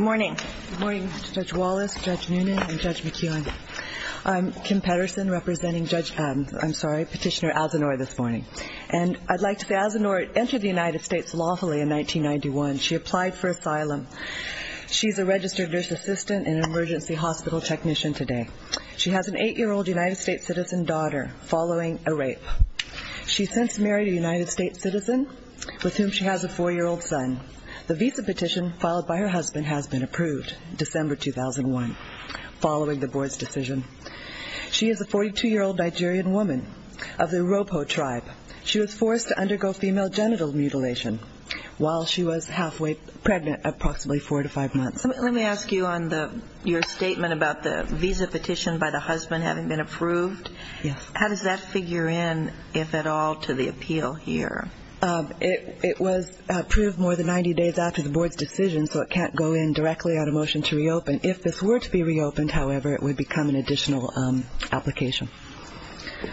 Good morning, Judge Wallace, Judge Noonan, and Judge Roberts. Thank you, Judge McKeon. I'm Kim Pedersen, representing Petitioner Asanoor this morning. And I'd like to say Asanoor entered the United States lawfully in 1991. She applied for asylum. She's a registered nurse assistant and emergency hospital technician today. She has an 8-year-old United States citizen daughter following a rape. She's since married a United States citizen with whom she has a 4-year-old son. The visa petition filed by her husband has been approved, December 2001, following the board's decision. She is a 42-year-old Nigerian woman of the Ropo tribe. She was forced to undergo female genital mutilation while she was halfway pregnant at approximately 4 to 5 months. Let me ask you on your statement about the visa petition by the husband having been approved. Yes. How does that figure in, if at all, to the appeal here? It was approved more than 90 days after the board's decision, so it can't go in directly on a motion to reopen. If this were to be reopened, however, it would become an additional application.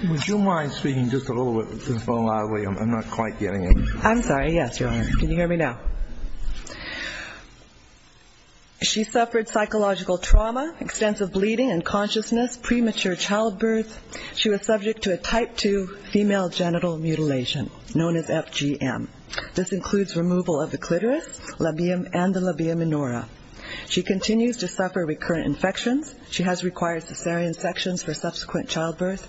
Would you mind speaking just a little bit more loudly? I'm not quite getting it. I'm sorry. Yes, Your Honor. Can you hear me now? She suffered psychological trauma, extensive bleeding and consciousness, premature childbirth. She was subject to a type 2 female genital mutilation, known as FGM. This includes removal of the clitoris and the labia minora. She continues to suffer recurrent infections. She has required cesarean sections for subsequent childbirth,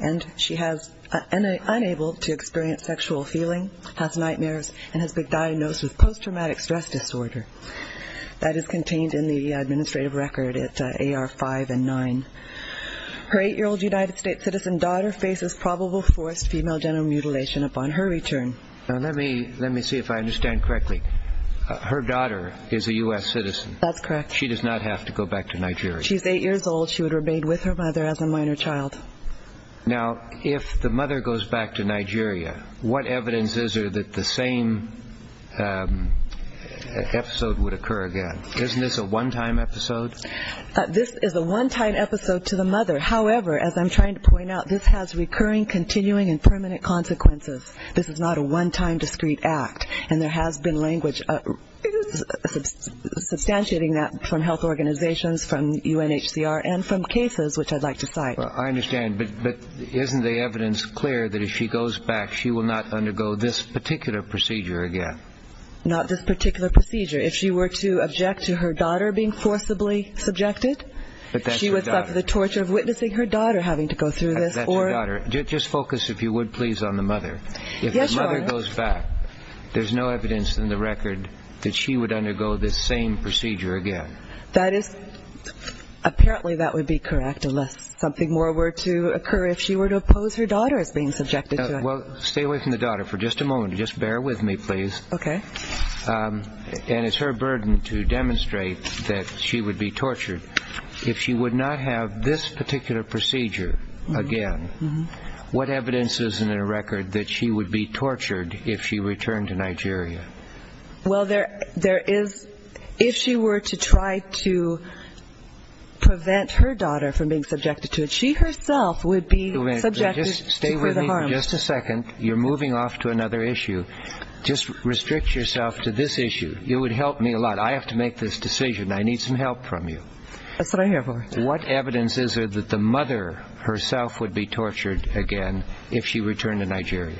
and she is unable to experience sexual feeling, has nightmares, and has been diagnosed with post-traumatic stress disorder. That is contained in the administrative record at AR 5 and 9. Her 8-year-old United States citizen daughter faces probable forced female genital mutilation upon her return. Let me see if I understand correctly. Her daughter is a U.S. citizen. That's correct. She does not have to go back to Nigeria. She's 8 years old. She would remain with her mother as a minor child. Now, if the mother goes back to Nigeria, what evidence is there that the same episode would occur again? Isn't this a one-time episode? This is a one-time episode to the mother. However, as I'm trying to point out, this has recurring, continuing, and permanent consequences. This is not a one-time discrete act, and there has been language substantiating that from health organizations, from UNHCR, and from cases, which I'd like to cite. I understand, but isn't the evidence clear that if she goes back, she will not undergo this particular procedure again? Not this particular procedure. If she were to object to her daughter being forcibly subjected, she would suffer the torture of witnessing her daughter having to go through this. That's your daughter. Just focus, if you would, please, on the mother. Yes, Your Honor. If the mother goes back, there's no evidence in the record that she would undergo this same procedure again. Apparently, that would be correct unless something more were to occur. If she were to oppose her daughter as being subjected to it. Well, stay away from the daughter for just a moment. Just bear with me, please. Okay. And it's her burden to demonstrate that she would be tortured. If she would not have this particular procedure again, what evidence is in the record that she would be tortured if she returned to Nigeria? Well, there is. If she were to try to prevent her daughter from being subjected to it, she herself would be subjected to the harm. Just stay with me for just a second. You're moving off to another issue. Just restrict yourself to this issue. You would help me a lot. I have to make this decision. I need some help from you. That's what I'm here for. What evidence is there that the mother herself would be tortured again if she returned to Nigeria?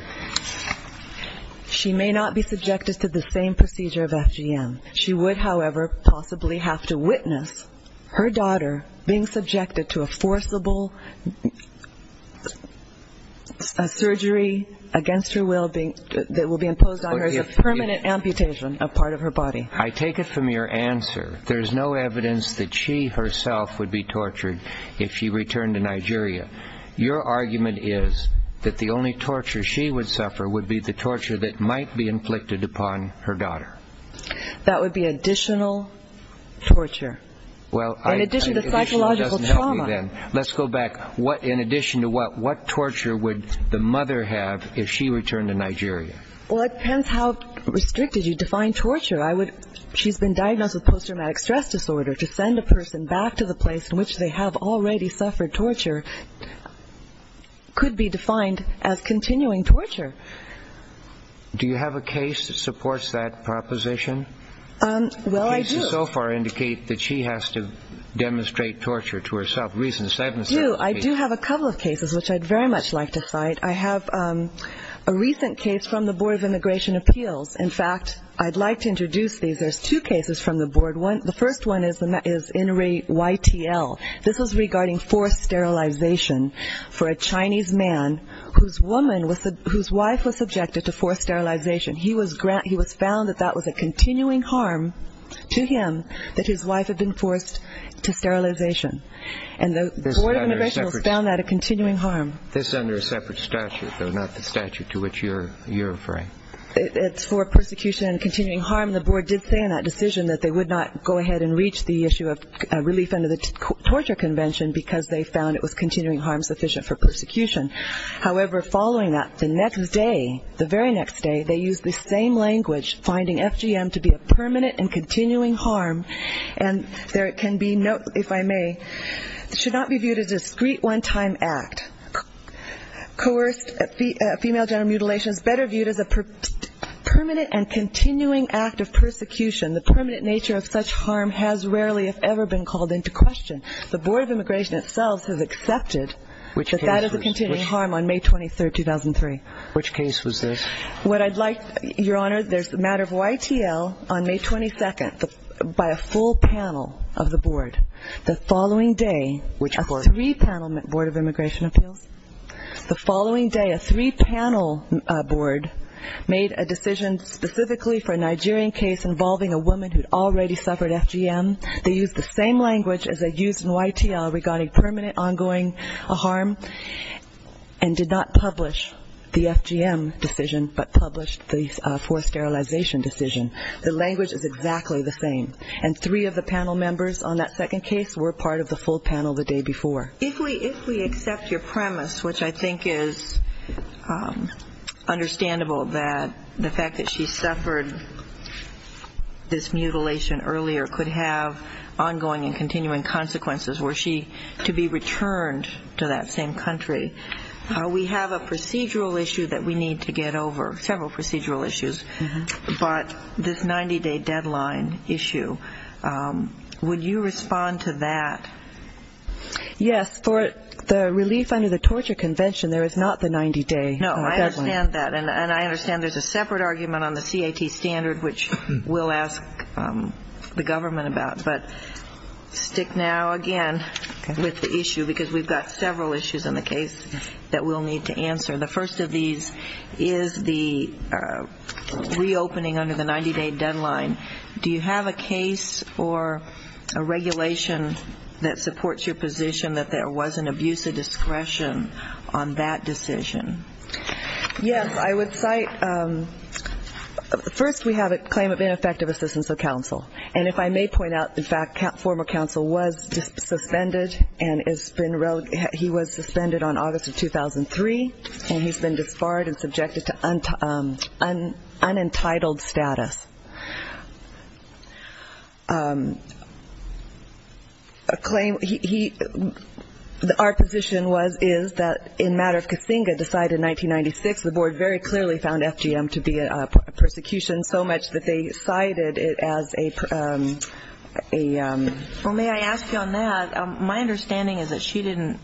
She may not be subjected to the same procedure of FGM. She would, however, possibly have to witness her daughter being subjected to a forcible surgery against her will that will be imposed on her as a permanent amputation of part of her body. I take it from your answer there is no evidence that she herself would be tortured if she returned to Nigeria. Your argument is that the only torture she would suffer would be the torture that might be inflicted upon her daughter. That would be additional torture. In addition to psychological trauma. Let's go back. In addition to what? What torture would the mother have if she returned to Nigeria? Well, it depends how restricted you define torture. She's been diagnosed with post-traumatic stress disorder. To send a person back to the place in which they have already suffered torture could be defined as continuing torture. Do you have a case that supports that proposition? Well, I do. The cases so far indicate that she has to demonstrate torture to herself. I do. I do have a couple of cases which I'd very much like to cite. I have a recent case from the Board of Immigration Appeals. In fact, I'd like to introduce these. There's two cases from the board. The first one is Inri YTL. This was regarding forced sterilization for a Chinese man whose wife was subjected to forced sterilization. He was found that that was a continuing harm to him that his wife had been forced to sterilization. And the Board of Immigration found that a continuing harm. This is under a separate statute, though not the statute to which you're referring. It's for persecution and continuing harm. The board did say in that decision that they would not go ahead and reach the issue of relief under the torture convention because they found it was continuing harm sufficient for persecution. However, following that, the next day, the very next day, they used the same language, finding FGM to be a permanent and continuing harm. And there can be no, if I may, should not be viewed as a discreet one-time act. Coerced female genital mutilation is better viewed as a permanent and continuing act of persecution. The permanent nature of such harm has rarely if ever been called into question. The Board of Immigration itself has accepted that that is a continuing harm on May 23rd, 2003. Which case was this? What I'd like, Your Honor, there's a matter of YTL on May 22nd by a full panel of the board. The following day, a three-panel board of immigration appeals. The following day, a three-panel board made a decision specifically for a Nigerian case involving a woman who had already suffered FGM. They used the same language as they used in YTL regarding permanent ongoing harm and did not publish the FGM decision but published the forced sterilization decision. The language is exactly the same. And three of the panel members on that second case were part of the full panel the day before. If we accept your premise, which I think is understandable, that the fact that she suffered this mutilation earlier could have ongoing and continuing consequences were she to be returned to that same country, we have a procedural issue that we need to get over, several procedural issues, but this 90-day deadline issue, would you respond to that? Yes. For the relief under the torture convention, there is not the 90-day deadline. No, I understand that. And I understand there's a separate argument on the CAT standard, which we'll ask the government about. But stick now, again, with the issue because we've got several issues on the case that we'll need to answer. The first of these is the reopening under the 90-day deadline. Do you have a case or a regulation that supports your position that there was an abuse of discretion on that decision? Yes. I would cite first we have a claim of ineffective assistance of counsel. And if I may point out, in fact, former counsel was suspended and he was suspended on August of 2003, and he's been disbarred and subjected to unentitled status. Our position is that in matter of Casinga decided in 1996, the board very clearly found FGM to be a persecution so much that they cited it as a per- My understanding is that she didn't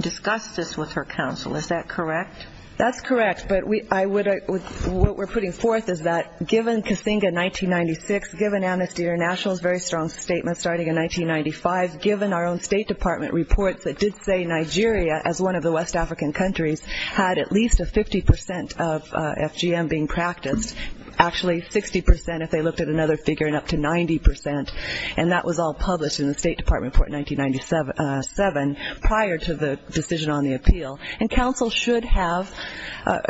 discuss this with her counsel. Is that correct? That's correct. But what we're putting forth is that given Casinga in 1996, given Amnesty International's very strong statement starting in 1995, given our own State Department reports that did say Nigeria, as one of the West African countries, had at least a 50 percent of FGM being practiced, actually 60 percent if they looked at another figure and up to 90 percent, and that was all published in the State Department report in 1997 prior to the decision on the appeal. And counsel should have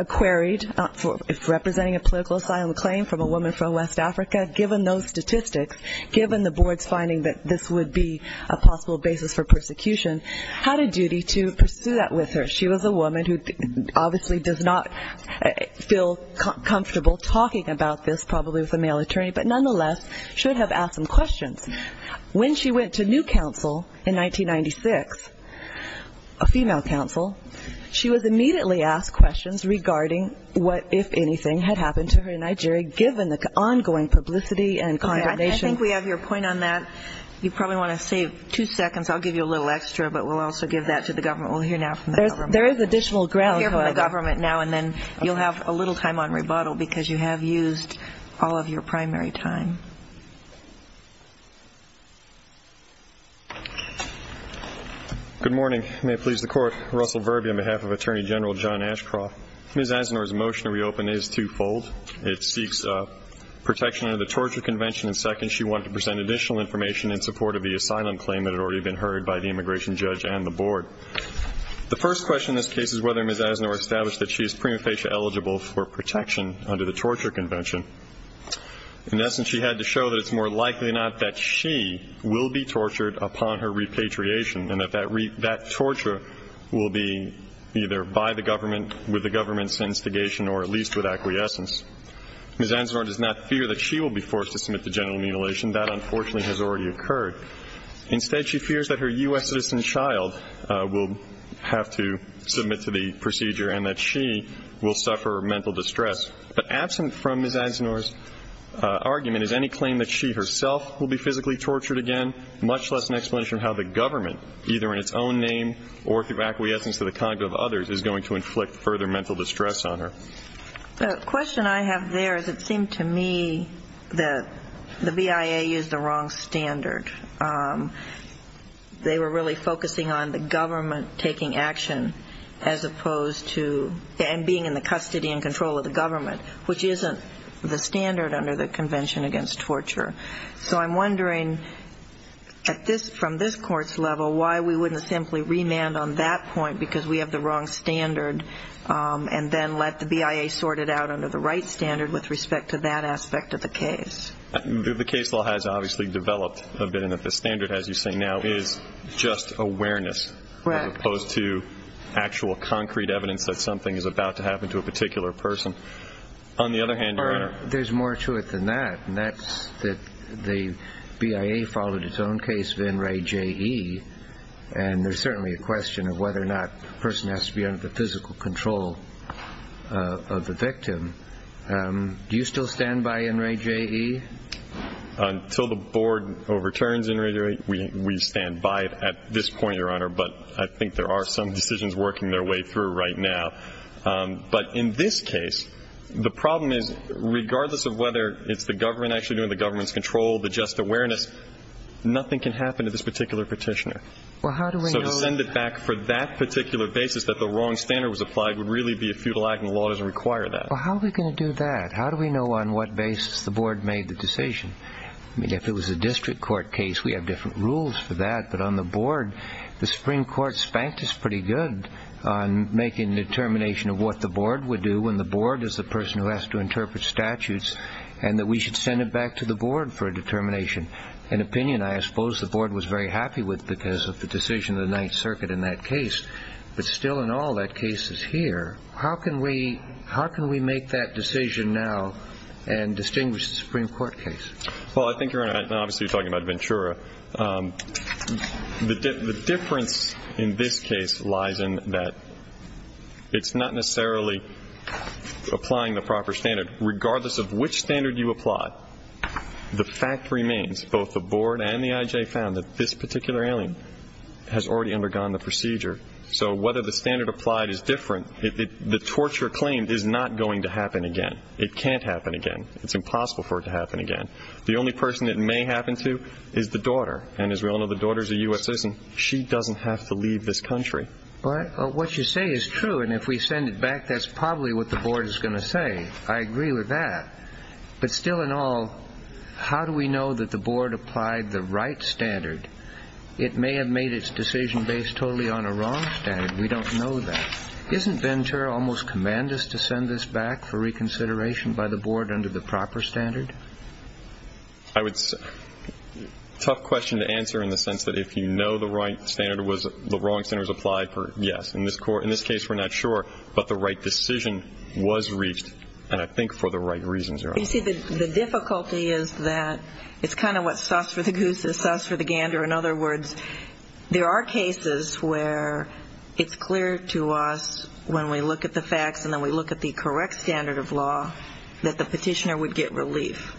queried, if representing a political asylum claim from a woman from West Africa, given those statistics, given the board's finding that this would be a possible basis for persecution, had a duty to pursue that with her. She was a woman who obviously does not feel comfortable talking about this probably with a male attorney, but nonetheless should have asked some questions. When she went to new counsel in 1996, a female counsel, she was immediately asked questions regarding what, if anything, had happened to her in Nigeria given the ongoing publicity and condemnation. I think we have your point on that. You probably want to save two seconds. I'll give you a little extra, but we'll also give that to the government. We'll hear now from the government. There is additional ground. We'll hear from the government now, and then you'll have a little time on rebuttal because you have used all of your primary time. Good morning. May it please the Court. Russell Verby on behalf of Attorney General John Ashcroft. Ms. Asner's motion to reopen is twofold. It seeks protection under the Torture Convention, and second, she wanted to present additional information in support of the asylum claim that had already been heard by the immigration judge and the board. The first question in this case is whether Ms. Asner established that she is prima facie eligible for protection under the Torture Convention. In essence, she had to show that it's more likely not that she will be tortured upon her repatriation and that that torture will be either by the government, with the government's instigation, or at least with acquiescence. Ms. Asner does not fear that she will be forced to submit to general mutilation. That, unfortunately, has already occurred. Instead, she fears that her U.S. citizen child will have to submit to the procedure and that she will suffer mental distress. But absent from Ms. Asner's argument is any claim that she herself will be physically tortured again, much less an explanation of how the government, either in its own name or through acquiescence to the conduct of others, is going to inflict further mental distress on her. The question I have there is it seemed to me that the BIA used the wrong standard. They were really focusing on the government taking action as opposed to and being in the custody and control of the government, which isn't the standard under the Convention Against Torture. So I'm wondering, from this court's level, why we wouldn't simply remand on that point because we have the wrong standard and then let the BIA sort it out under the right standard with respect to that aspect of the case. The case law has obviously developed a bit in that the standard, as you say now, is just awareness. Right. As opposed to actual concrete evidence that something is about to happen to a particular person. On the other hand, Your Honor. There's more to it than that, and that's that the BIA followed its own case, Vin Ray J. E., and there's certainly a question of whether or not a person has to be under the physical control of the victim. Do you still stand by Vin Ray J. E.? Until the board overturns Vin Ray J. E., we stand by it at this point, Your Honor, but I think there are some decisions working their way through right now. But in this case, the problem is regardless of whether it's the government actually doing the government's control, the just awareness, nothing can happen to this particular petitioner. So to send it back for that particular basis that the wrong standard was applied would really be a futile act, and the law doesn't require that. Well, how are we going to do that? How do we know on what basis the board made the decision? I mean, if it was a district court case, we have different rules for that. But on the board, the Supreme Court spanked us pretty good on making a determination of what the board would do when the board is the person who has to interpret statutes, and that we should send it back to the board for a determination. An opinion, I suppose, the board was very happy with because of the decision of the Ninth Circuit in that case. But still in all that cases here, how can we make that decision now and distinguish the Supreme Court case? Well, I think, Your Honor, obviously you're talking about Ventura. The difference in this case lies in that it's not necessarily applying the proper standard. And regardless of which standard you apply, the fact remains, both the board and the I.J. found, that this particular alien has already undergone the procedure. So whether the standard applied is different, the torture claimed is not going to happen again. It can't happen again. It's impossible for it to happen again. The only person it may happen to is the daughter. And as we all know, the daughter is a U.S. citizen. She doesn't have to leave this country. Well, what you say is true. And if we send it back, that's probably what the board is going to say. I agree with that. But still in all, how do we know that the board applied the right standard? It may have made its decision based totally on a wrong standard. We don't know that. Isn't Ventura almost command us to send this back for reconsideration by the board under the proper standard? A tough question to answer in the sense that if you know the wrong standard was applied, yes. In this case, we're not sure. But the right decision was reached, and I think for the right reasons. You see, the difficulty is that it's kind of what's sus for the goose is sus for the gander. In other words, there are cases where it's clear to us when we look at the facts and then we look at the correct standard of law that the petitioner would get relief.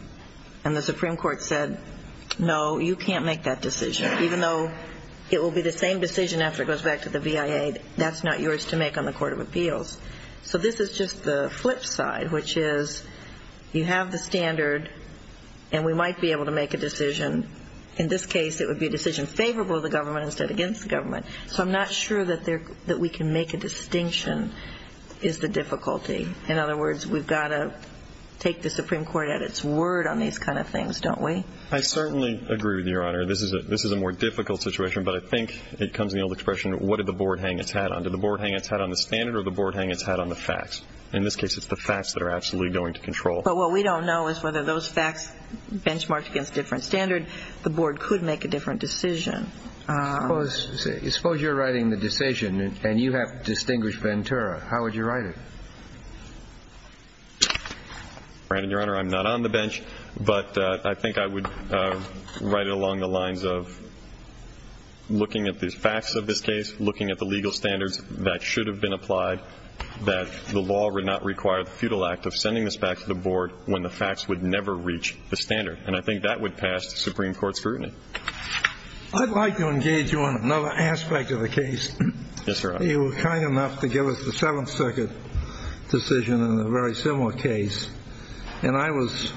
And the Supreme Court said, no, you can't make that decision, even though it will be the same decision after it goes back to the VIA. That's not yours to make on the Court of Appeals. So this is just the flip side, which is you have the standard, and we might be able to make a decision. In this case, it would be a decision favorable to the government instead of against the government. So I'm not sure that we can make a distinction is the difficulty. In other words, we've got to take the Supreme Court at its word on these kind of things, don't we? I certainly agree with you, Your Honor. This is a more difficult situation, but I think it comes in the old expression, what did the board hang its hat on? Did the board hang its hat on the standard, or did the board hang its hat on the facts? In this case, it's the facts that are absolutely going to control. But what we don't know is whether those facts benchmarked against a different standard, the board could make a different decision. Suppose you're writing the decision, and you have distinguished Ventura. How would you write it? Your Honor, I'm not on the bench, but I think I would write it along the lines of looking at the facts of this case, looking at the legal standards that should have been applied, that the law would not require the futile act of sending this back to the board when the facts would never reach the standard. And I think that would pass the Supreme Court's scrutiny. I'd like to engage you on another aspect of the case. Yes, Your Honor. You were kind enough to give us the Seventh Circuit decision in a very similar case, and I was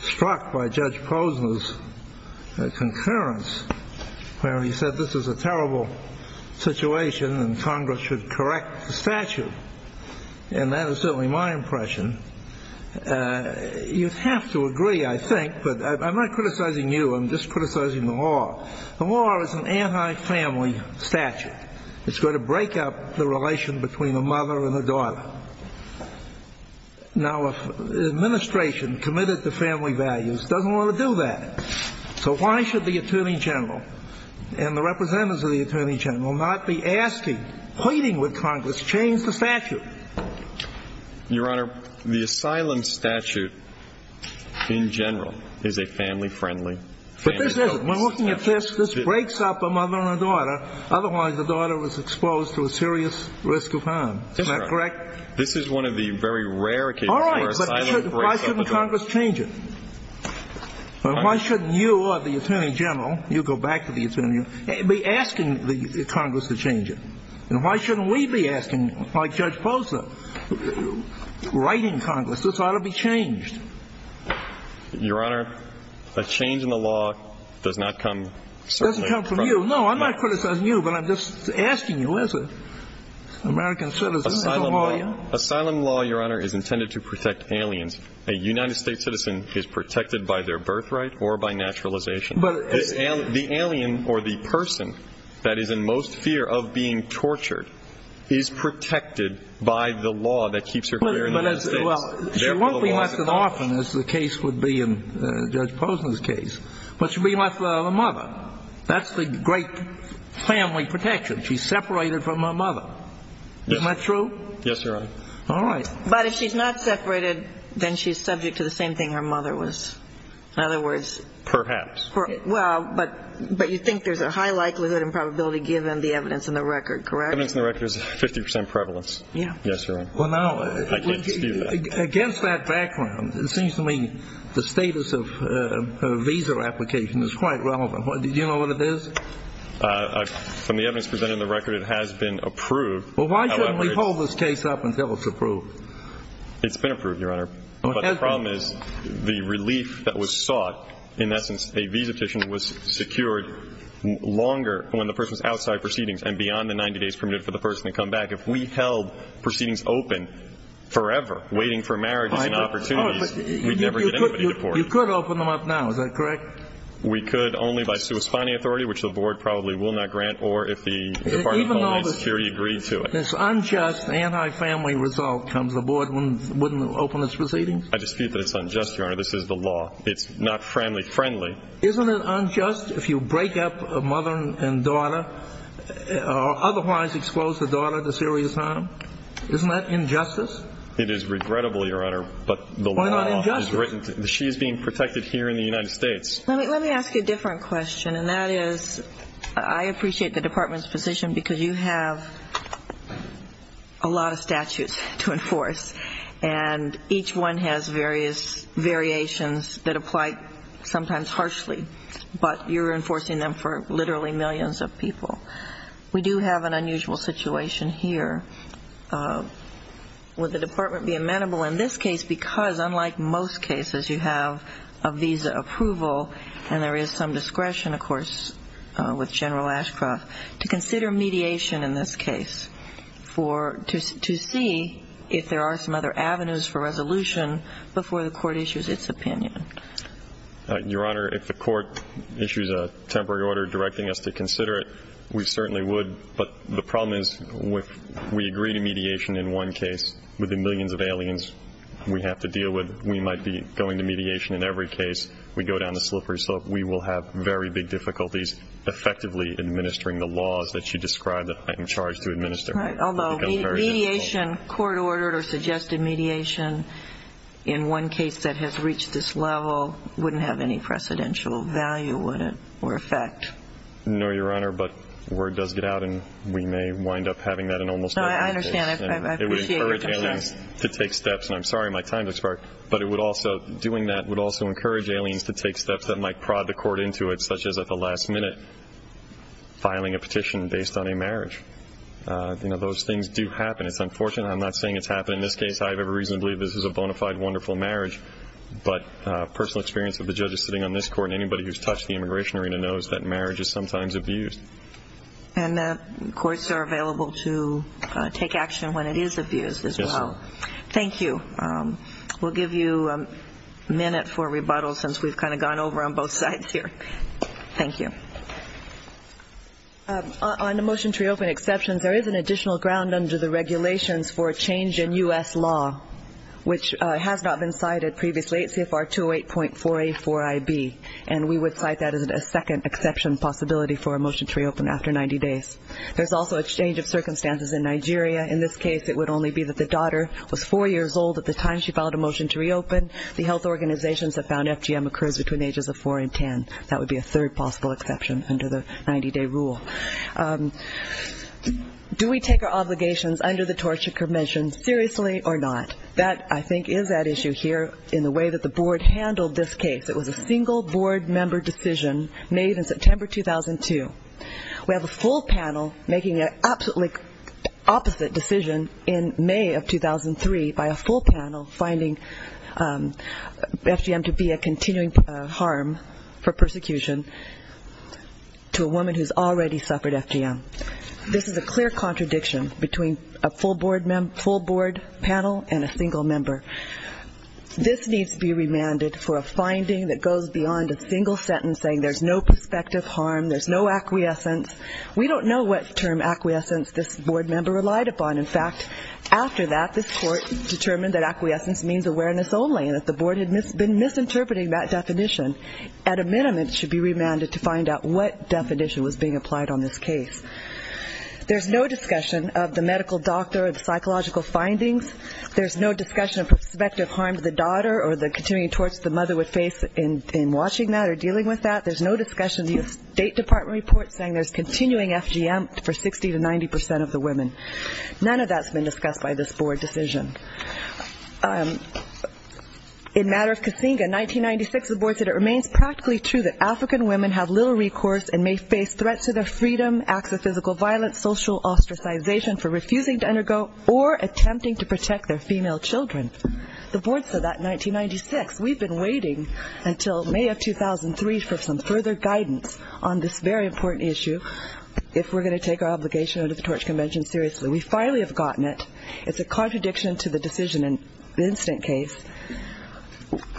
struck by Judge Posner's concurrence where he said this is a terrible situation and Congress should correct the statute. And that is certainly my impression. You'd have to agree, I think, but I'm not criticizing you. I'm just criticizing the law. The law is an anti-family statute. It's going to break up the relation between the mother and the daughter. Now, an administration committed to family values doesn't want to do that. So why should the Attorney General and the representatives of the Attorney General not be asking, pleading with Congress, change the statute? Your Honor, the asylum statute in general is a family-friendly family code. But this isn't. When looking at this, this breaks up a mother and a daughter. Otherwise, the daughter was exposed to a serious risk of harm. That's right. Isn't that correct? This is one of the very rare cases where asylum breaks up a daughter. All right, but why shouldn't Congress change it? Why shouldn't you or the Attorney General, you go back to the Attorney General, be asking Congress to change it? And why shouldn't we be asking, like Judge Posa, writing Congress, this ought to be changed? Your Honor, a change in the law does not come certainly from you. It doesn't come from you. No, I'm not criticizing you, but I'm just asking you as an American citizen. Asylum law, Your Honor, is intended to protect aliens. A United States citizen is protected by their birthright or by naturalization. The alien or the person that is in most fear of being tortured is protected by the law that keeps her here in the United States. Well, she won't be left an orphan, as the case would be in Judge Posa's case, but she'll be left a mother. That's the great family protection. She's separated from her mother. Isn't that true? Yes, Your Honor. All right. But if she's not separated, then she's subject to the same thing her mother was. In other words, Perhaps. Well, but you think there's a high likelihood and probability given the evidence in the record, correct? The evidence in the record is 50 percent prevalence. Yes, Your Honor. Well, now, against that background, it seems to me the status of a visa application is quite relevant. Do you know what it is? From the evidence presented in the record, it has been approved. Well, why shouldn't we hold this case up until it's approved? It's been approved, Your Honor. But the problem is the relief that was sought, in essence, a visa petition was secured longer when the person's outside proceedings and beyond the 90 days permitted for the person to come back. If we held proceedings open forever, waiting for marriages and opportunities, we'd never get anybody deported. You could open them up now. Is that correct? We could only by sui spani authority, which the board probably will not grant, or if the Department of Homeland Security agreed to it. This unjust anti-family result comes aboard when the board wouldn't open its proceedings? I dispute that it's unjust, Your Honor. This is the law. It's not family friendly. Isn't it unjust if you break up a mother and daughter or otherwise expose the daughter to serious harm? Isn't that injustice? It is regrettable, Your Honor, but the law is written. Why not injustice? She is being protected here in the United States. Let me ask you a different question, and that is I appreciate the Department's position because you have a lot of statutes to enforce, and each one has various variations that apply sometimes harshly, but you're enforcing them for literally millions of people. We do have an unusual situation here. Would the Department be amenable in this case, because unlike most cases you have a visa approval, and there is some discretion, of course, with General Ashcroft, to consider mediation in this case to see if there are some other avenues for resolution before the court issues its opinion? Your Honor, if the court issues a temporary order directing us to consider it, we certainly would, but the problem is if we agree to mediation in one case, with the millions of aliens we have to deal with, we might be going to mediation in every case. We go down a slippery slope. We will have very big difficulties effectively administering the laws that you described that I'm charged to administer. Right, although mediation, court-ordered or suggested mediation, in one case that has reached this level, wouldn't have any precedential value, would it, or effect? No, Your Honor, but word does get out, and we may wind up having that in almost every case. I understand. I appreciate your concern. It would encourage aliens to take steps, and I'm sorry my time has expired, but doing that would also encourage aliens to take steps that might prod the court into it, such as at the last minute filing a petition based on a marriage. Those things do happen. It's unfortunate I'm not saying it's happening in this case. I have every reason to believe this is a bona fide, wonderful marriage, but personal experience of the judges sitting on this court and anybody who's touched the immigration arena knows that marriage is sometimes abused. And courts are available to take action when it is abused as well. Thank you. We'll give you a minute for rebuttal since we've kind of gone over on both sides here. Thank you. On the motion to reopen exceptions, there is an additional ground under the regulations for a change in U.S. law, which has not been cited previously. And we would cite that as a second exception possibility for a motion to reopen after 90 days. There's also a change of circumstances in Nigeria. In this case, it would only be that the daughter was four years old at the time she filed a motion to reopen. The health organizations have found FGM occurs between the ages of four and ten. That would be a third possible exception under the 90-day rule. Do we take our obligations under the Torture Commission seriously or not? That, I think, is at issue here in the way that the board handled this case. It was a single board member decision made in September 2002. We have a full panel making an absolutely opposite decision in May of 2003 by a full panel finding FGM to be a continuing harm for persecution to a woman who's already suffered FGM. This is a clear contradiction between a full board panel and a single member. This needs to be remanded for a finding that goes beyond a single sentence saying there's no prospective harm, there's no acquiescence. We don't know what term acquiescence this board member relied upon. In fact, after that, this court determined that acquiescence means awareness only and that the board had been misinterpreting that definition. At a minimum, it should be remanded to find out what definition was being applied on this case. There's no discussion of the medical doctor or the psychological findings. There's no discussion of prospective harm to the daughter or the continuing torts the mother would face in watching that or dealing with that. There's no discussion of the State Department report saying there's continuing FGM for 60 to 90 percent of the women. None of that's been discussed by this board decision. In matter of Casinga, 1996, the board said it remains practically true that African women have little recourse and may face threats to their freedom, acts of physical violence, social ostracization for refusing to undergo or attempting to protect their female children. The board said that in 1996. We've been waiting until May of 2003 for some further guidance on this very important issue if we're going to take our obligation under the Torch Convention seriously. We finally have gotten it. It's a contradiction to the decision in the incident case.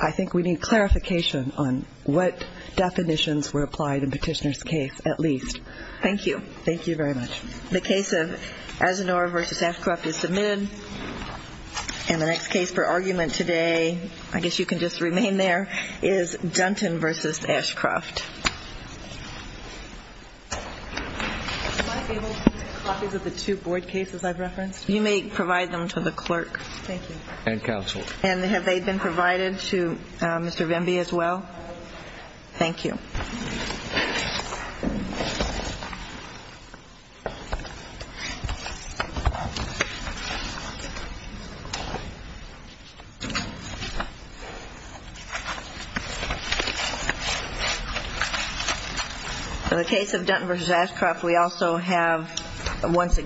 I think we need clarification on what definitions were applied in Petitioner's case, at least. Thank you. Thank you very much. The case of Azenor v. Ashcroft is submitted. And the next case for argument today, I guess you can just remain there, is Dunton v. Ashcroft. Am I able to get copies of the two board cases I've referenced? You may provide them to the clerk. Thank you. And counsel. And have they been provided to Mr. Venby as well? Thank you. In the case of Dunton v. Ashcroft, we also have, once again,